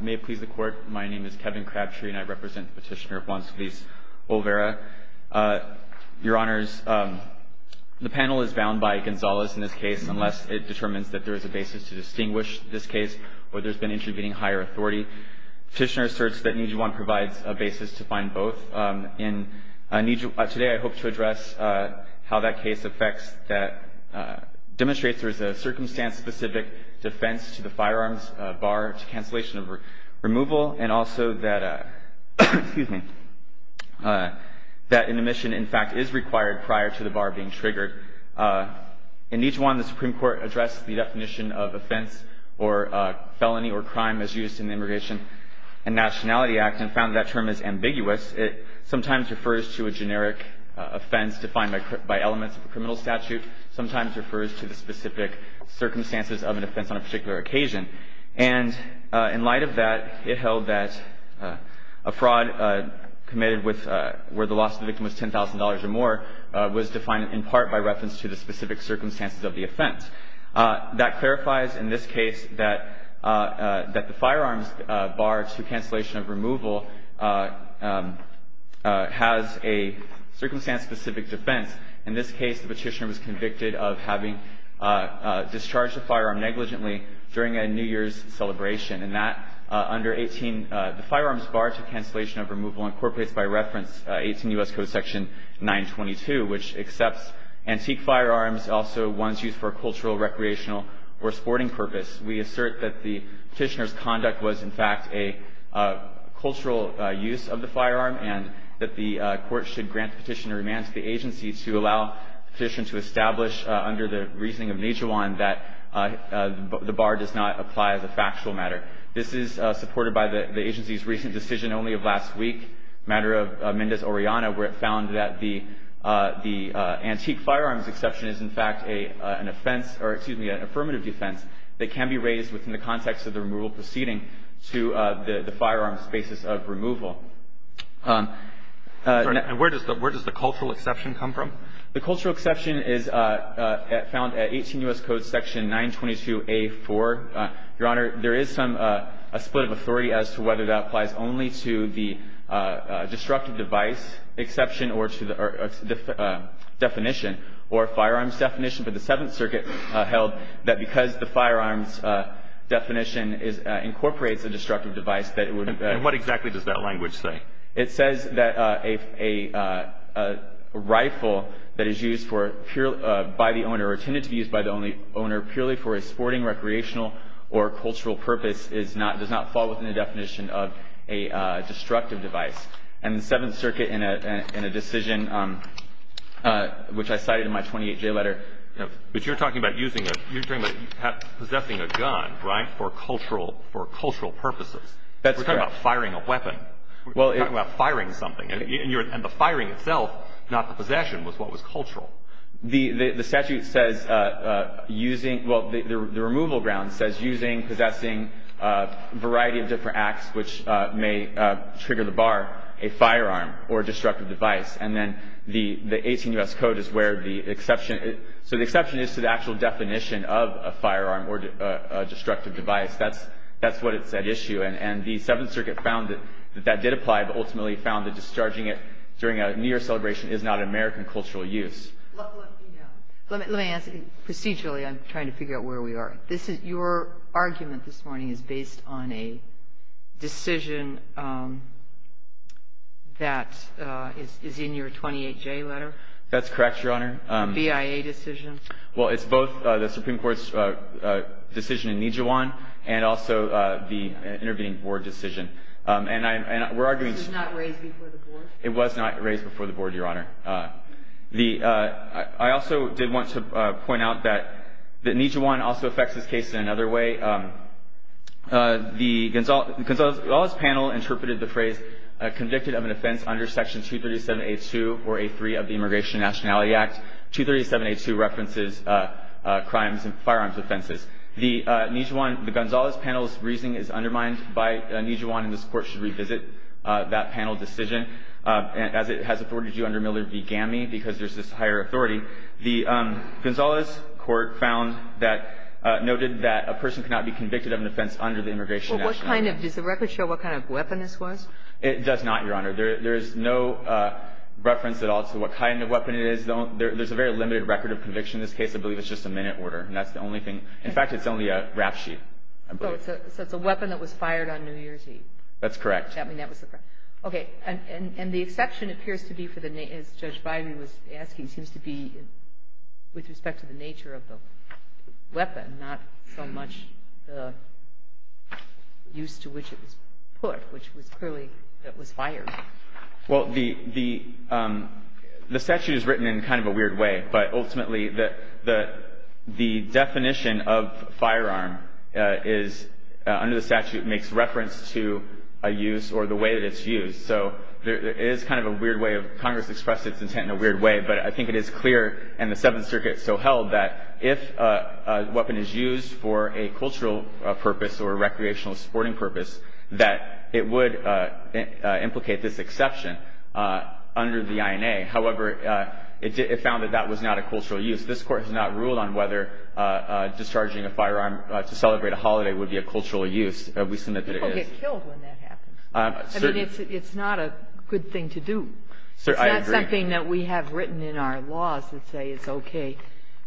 May it please the Court, my name is Kevin Crabtree and I represent Petitioner Juan Solis Olvera. Your Honors, the panel is bound by Gonzales in this case unless it determines that there is a basis to distinguish this case or there's been intervening higher authority. Petitioner asserts that Nijuan provides a basis to find both. Today I hope to address how that case affects that demonstrates there is a circumstance specific defense to the firearms bar to cancellation of removal and also that an admission in fact is required prior to the bar being triggered. In Nijuan the Supreme Court addressed the definition of offense or felony or crime as used in the Immigration and Nationality Act and found that term is ambiguous. It sometimes refers to a generic offense defined by elements of a criminal statute, sometimes refers to the specific circumstances of an offense on a particular occasion. And in light of that, it held that a fraud committed with where the loss of the victim was $10,000 or more was defined in part by reference to the specific circumstances of the offense. That clarifies in this case that the firearms bar to cancellation of removal has a circumstance specific defense. In this case, the petitioner was convicted of having discharged a firearm negligently during a New Year's celebration. And that under 18, the firearms bar to cancellation of removal incorporates by reference 18 U.S. Code section 922, which accepts antique firearms, also ones used for cultural, recreational, or sporting purpose. We assert that the petitioner's conduct was in fact a cultural use of the firearm and that the court should grant the petitioner remand to the agency to allow the petitioner to establish under the reasoning of Nijuan that the bar does not apply as a factual matter. This is supported by the agency's recent decision only of last week, matter of Mendez-Oriana, where it found that the antique firearms exception is in fact an offense or, excuse me, an affirmative defense that can be raised within the context of the removal proceeding to the firearms basis of removal. And where does the cultural exception come from? The cultural exception is found at 18 U.S. Code section 922A4. Your Honor, there is a split of authority as to whether that applies only to the destructive device exception or to the definition or firearms definition, but the Seventh Circuit held that because the firearms definition incorporates a destructive device that it would And what exactly does that language say? It says that a rifle that is used by the owner or intended to be used by the owner purely for a sporting, recreational, or cultural purpose does not fall within the definition of a destructive device. And the Seventh Circuit in a decision which I cited in my 28-J letter But you're talking about using a, you're talking about possessing a gun, right, for cultural purposes. That's correct. We're talking about firing a weapon. We're talking about firing something. And the firing itself, not the possession, was what was cultural. The statute says using, well, the removal ground says using, possessing a variety of different acts which may trigger the bar, a firearm or destructive device. And then the 18 U.S. Code is where the exception is. So the exception is to the actual definition of a firearm or a destructive device. That's what it said issue. And the Seventh Circuit found that that did apply, but ultimately found that discharging it during a New Year celebration is not an American cultural use. Let me ask you procedurally. I'm trying to figure out where we are. Your argument this morning is based on a decision that is in your 28-J letter? That's correct, Your Honor. A BIA decision? Well, it's both the Supreme Court's decision in Nijiwan and also the intervening board decision. And we're arguing that it was not raised before the board, Your Honor. I also did want to point out that Nijiwan also affects this case in another way. The Gonzales panel interpreted the phrase convicted of an offense under Section 237A2 or A3 of the Immigration and Nationality Act. 237A2 references crimes and firearms offenses. The Nijiwan – the Gonzales panel's reasoning is undermined by Nijiwan, and this Court should revisit that panel decision. As it has afforded you under Miller v. Gammey, because there's this higher authority, the Gonzales court found that – noted that a person cannot be convicted of an offense under the Immigration and Nationality Act. Well, what kind of – does the record show what kind of weapon this was? It does not, Your Honor. There is no reference at all to what kind of weapon it is. There's a very limited record of conviction in this case. I believe it's just a minute order, and that's the only thing. In fact, it's only a rap sheet, I believe. So it's a weapon that was fired on New Year's Eve. That's correct. I mean, that was the – okay. And the exception appears to be for the – as Judge Biden was asking, seems to be with respect to the nature of the weapon, not so much the use to which it was put, which was clearly – it was fired. Well, the statute is written in kind of a weird way, but ultimately the definition of firearm is – under the statute makes reference to a use or the way that it's used. So there is kind of a weird way of – Congress expressed its intent in a weird way, but I think it is clear and the Seventh Circuit so held that if a weapon is used for a cultural purpose or a recreational sporting purpose, that it would implicate this exception under the INA. However, it found that that was not a cultural use. This Court has not ruled on whether discharging a firearm to celebrate a holiday would be a cultural use. We submit that it is. People get killed when that happens. I mean, it's not a good thing to do. I agree. It's not something that we have written in our laws that say it's okay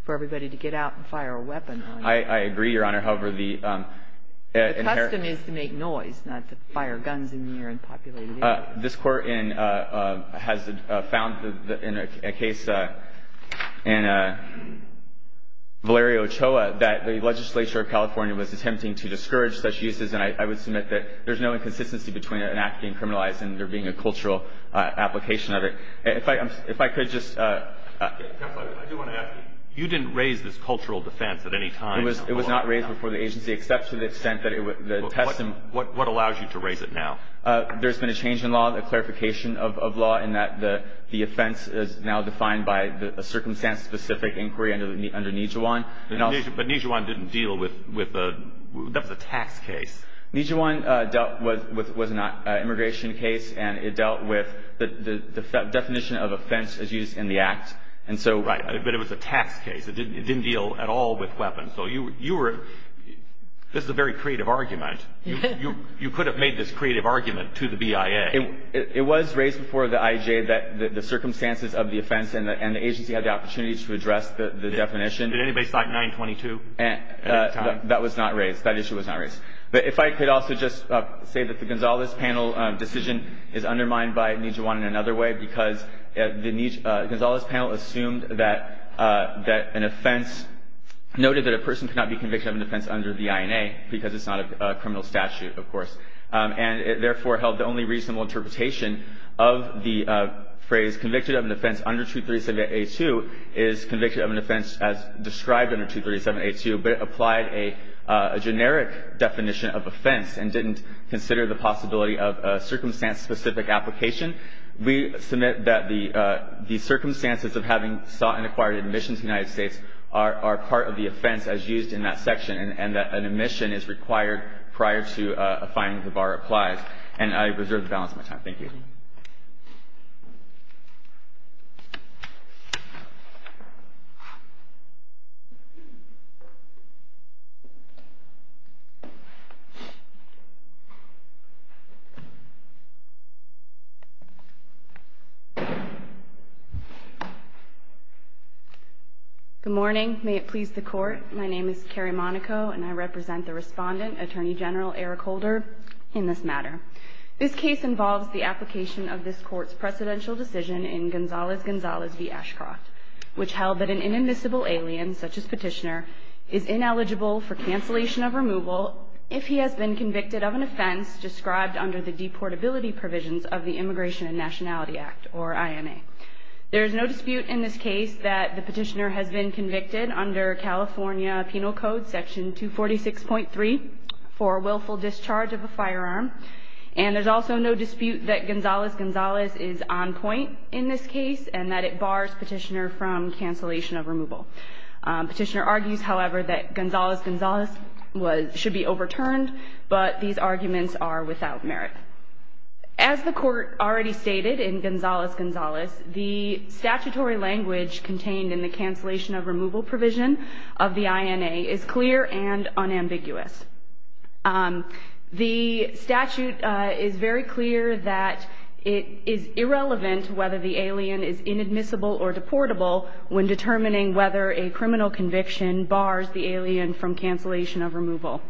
for everybody to get out and fire a weapon. I agree, Your Honor. However, the inherent – The custom is to make noise, not to fire guns in the air and populate the air. This Court has found in a case in Valerio Ochoa that the legislature of California was attempting to discourage such uses, and I would submit that there's no inconsistency between an act being criminalized and there being a cultural application of it. If I could just – Counsel, I do want to ask you. You didn't raise this cultural defense at any time in the court. It was not raised before the agency, except to the extent that the custom – What allows you to raise it now? There's been a change in law, a clarification of law, in that the offense is now defined by a circumstance-specific inquiry under Nijhuan. But Nijhuan didn't deal with – that's a tax case. Nijhuan dealt with – was not an immigration case, and it dealt with the definition of offense as used in the act, and so – Right, but it was a tax case. It didn't deal at all with weapons. So you were – this is a very creative argument. You could have made this creative argument to the BIA. It was raised before the IJ that the circumstances of the offense and the agency had the opportunity to address the definition. Did anybody cite 922 at any time? That was not raised. That issue was not raised. But if I could also just say that the Gonzales panel decision is undermined by Nijhuan in another way because the – Gonzales panel assumed that an offense – noted that a person cannot be convicted of an offense under the INA because it's not a criminal statute, of course. And it therefore held the only reasonable interpretation of the phrase convicted of an offense under 237A2 is convicted of an offense as described under 237A2, but it applied a generic definition of offense and didn't consider the possibility of a circumstance-specific application. We submit that the circumstances of having sought and acquired admission to the United States are part of the offense as used in that section and that an admission is required prior to a finding that the bar applies. And I reserve the balance of my time. Thank you. Good morning. May it please the Court. My name is Carrie Monaco, and I represent the Respondent, Attorney General Eric Holder, in this matter. This case involves the application of this Court's precedential decision in Gonzales-Gonzales v. Ashcroft, which held that an inadmissible alien, such as Petitioner, is ineligible for cancellation of removal if he has been convicted of an offense described under the deportability provisions of the Immigration Act. There is no dispute in this case that the Petitioner has been convicted under California Penal Code Section 246.3 for willful discharge of a firearm, and there's also no dispute that Gonzales-Gonzales is on point in this case and that it bars Petitioner from cancellation of removal. Petitioner argues, however, that Gonzales-Gonzales should be overturned, but these arguments are without merit. As the Court already stated in Gonzales-Gonzales, the statutory language contained in the cancellation of removal provision of the INA is clear and unambiguous. The statute is very clear that it is irrelevant whether the alien is inadmissible or deportable when determining whether a criminal conviction bars the alien from cancellation of removal.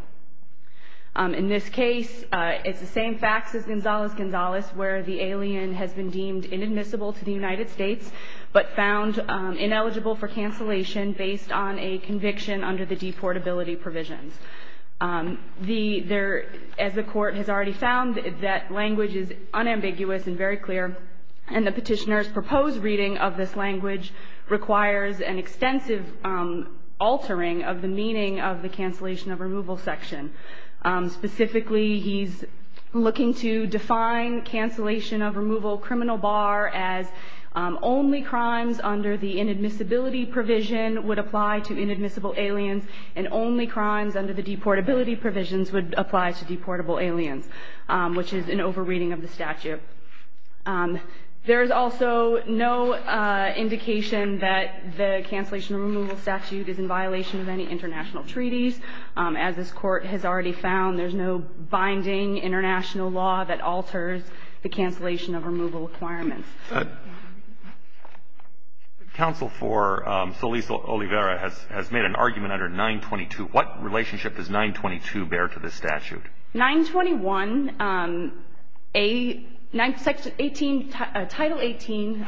In this case, it's the same facts as Gonzales-Gonzales where the alien has been deemed inadmissible to the United States but found ineligible for cancellation based on a conviction under the deportability provisions. As the Court has already found, that language is unambiguous and very clear, and the Petitioner's proposed reading of this language requires an extensive altering of the meaning of the cancellation of removal section. Specifically, he's looking to define cancellation of removal criminal bar as only crimes under the inadmissibility provision would apply to inadmissible aliens and only crimes under the deportability provisions would apply to deportable aliens, which is an over-reading of the statute. There is also no indication that the cancellation of removal statute is in violation of any international treaties. As this Court has already found, there's no binding international law that alters the cancellation of removal requirements. Counsel for Solis Oliveira has made an argument under 922. What relationship does 922 bear to this statute? Title 18,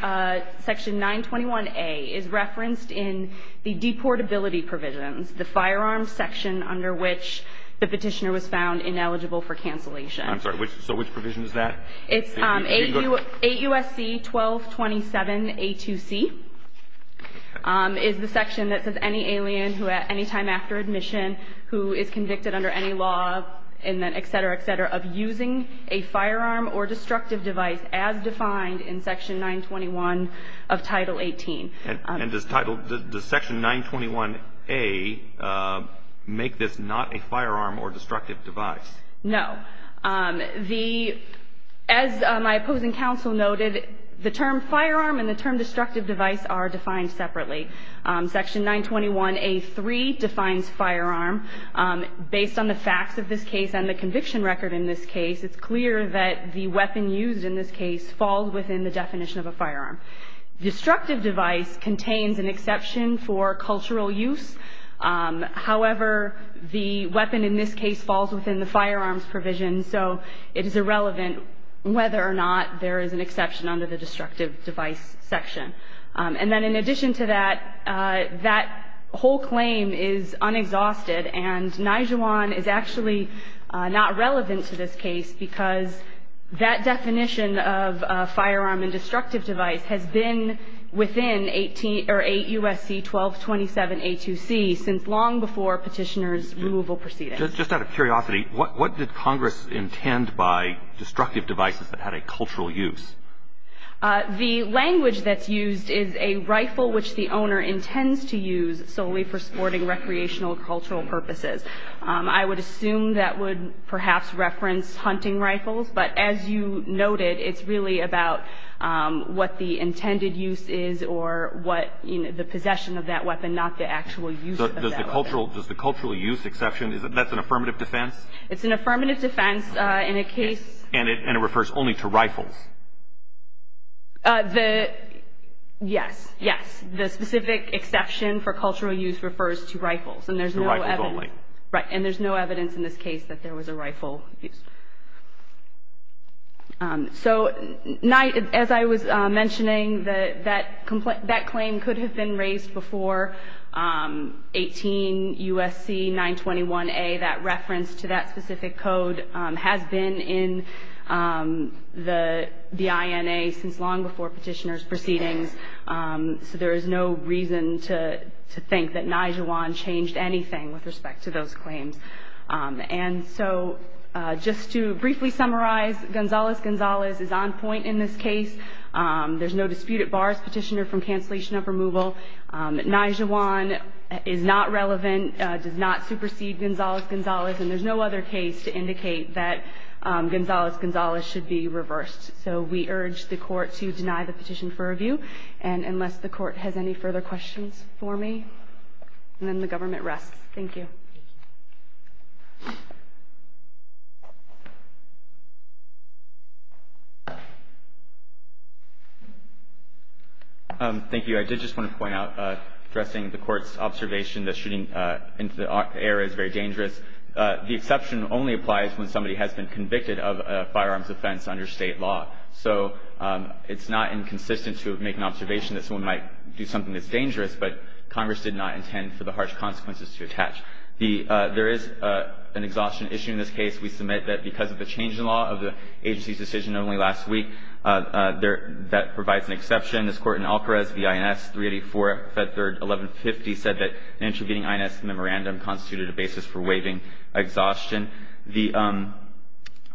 section 921A is referenced in the deportability provisions, the firearms section under which the Petitioner was found ineligible for cancellation. I'm sorry, so which provision is that? It's 8 U.S.C. 1227A2C is the section that says any alien who at any time after admission who is convicted under any law etc. etc. of using a firearm or destructive device as defined in section 921 of Title 18. And does section 921A make this not a firearm or destructive device? No. As my opposing counsel noted, the term firearm and the term destructive device are defined separately. Section 921A3 defines firearm. Based on the facts of this case and the conviction record in this case, falls within the definition of a firearm. Destructive device contains an exception for cultural use. However, the weapon in this case falls within the firearms provision, so it is irrelevant whether or not there is an exception under the destructive device section. And then in addition to that, that whole claim is unexhausted and Nijuan is actually not relevant to this case because that definition of a firearm and destructive device has been within 8 U.S.C. 1227A2C since long before petitioner's removal proceedings. Just out of curiosity, what did Congress intend by destructive devices that had a cultural use? The language that's used is a rifle which the owner intends to use solely for sporting, recreational, or cultural purposes. I would assume that would perhaps reference hunting rifles, but as you noted, it's really about what the intended use is or what the possession of that weapon, not the actual use of that weapon. Does the cultural use exception, that's an affirmative defense? It's an affirmative defense in a case... And it refers only to rifles? Yes, yes. The specific exception for cultural use refers to rifles. To rifles only. Right, and there's no evidence in this case that there was a rifle used. So, as I was mentioning, that claim could have been raised before 18 U.S.C. 921A, that reference to that specific code has been in the INA since long before petitioner's proceedings, so there is no reason to think that Nijawan changed anything with respect to those claims. And so, just to briefly summarize, Gonzales-Gonzales is on point in this case. There's no dispute at bars, petitioner from cancellation of removal. Nijawan is not relevant, does not supersede Gonzales-Gonzales, and there's no other case to indicate that Gonzales-Gonzales should be reversed. So we urge the court to deny the petition for review, and unless the court has any further questions for me, then the government rests. Thank you. Thank you. Thank you. I did just want to point out, addressing the court's observation that shooting into the air is very dangerous, the exception only applies when somebody has been convicted of a firearms offense under State law. So it's not inconsistent to make an observation that someone might do something that's dangerous, but Congress did not intend for the harsh consequences to attach. There is an exhaustion issue in this case. We submit that because of the change in law of the agency's decision only last week, that provides an exception. This Court in Alcarez v. INS 384, Fed Third 1150 said that an intervening INS memorandum constituted a basis for waiving exhaustion.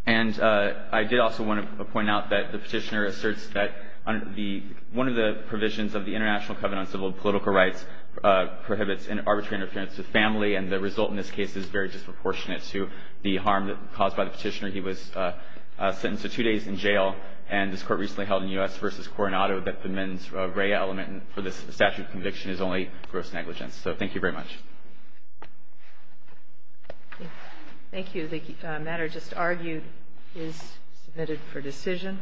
And I did also want to point out that the petitioner asserts that one of the provisions of the International Covenant on Civil and Political Rights prohibits arbitrary interference with family, and the result in this case is very disproportionate to the harm caused by the petitioner. He was sentenced to two days in jail, and this Court recently held in U.S. v. Coronado that the mens rea element for this statute of conviction is only gross negligence. So thank you very much. Thank you. The matter just argued is submitted for decision.